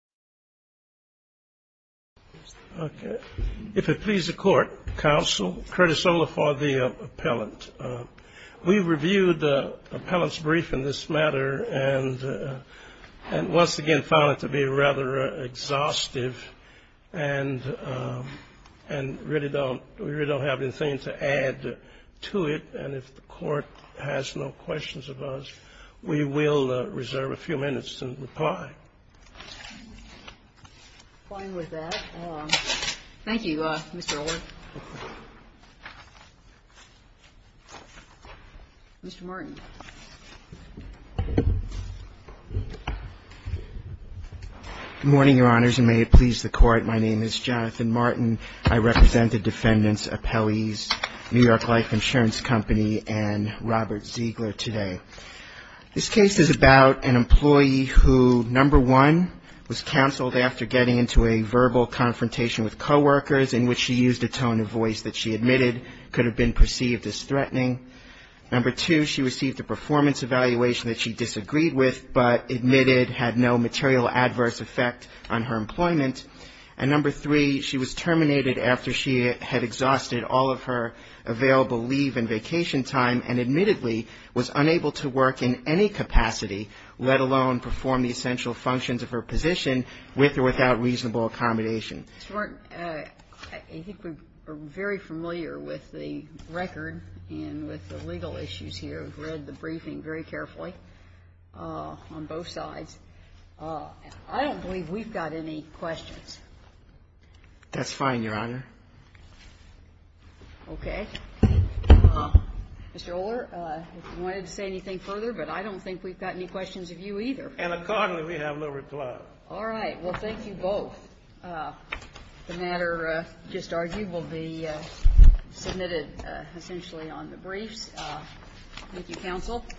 If it pleases the court, counsel, Curtis Olafor, the appellant. We reviewed the appellant's brief in this matter and once again found it to be rather exhaustive and really don't have anything to add to it. And if the court has no questions of us, we will reserve a motion to adjourn the hearing, so we will adjourn the hearing, Mr. Olafor. Thank you, Mr. Olafor. Mr. Martin. Good morning, Your Honors, and may it please the court, my name is Jonathan Martin. I represent the defendants, appellees, New York Life Insurance Company and Robert Ziegler today. This case is about an employee who, number one, was counseled after getting into a verbal confrontation with coworkers in which she used a tone of voice that she admitted could have been perceived as threatening. Number two, she received a performance evaluation that she disagreed with but admitted had no material adverse effect on her employment. And number three, she was terminated after she had exhausted all of her available leave and vacation time and admittedly was unable to work in any capacity, let alone perform the essential functions of her position with or without reasonable accommodation. Mr. Martin, I think we're very familiar with the record and with the legal issues here. We've read the briefing very carefully on both sides. I don't believe we've got any questions. That's fine, Your Honor. Okay. Mr. Oler, if you wanted to say anything further, but I don't think we've got any questions of you either. And accordingly, we have no reply. All right. Well, thank you both. The matter just argued will be submitted essentially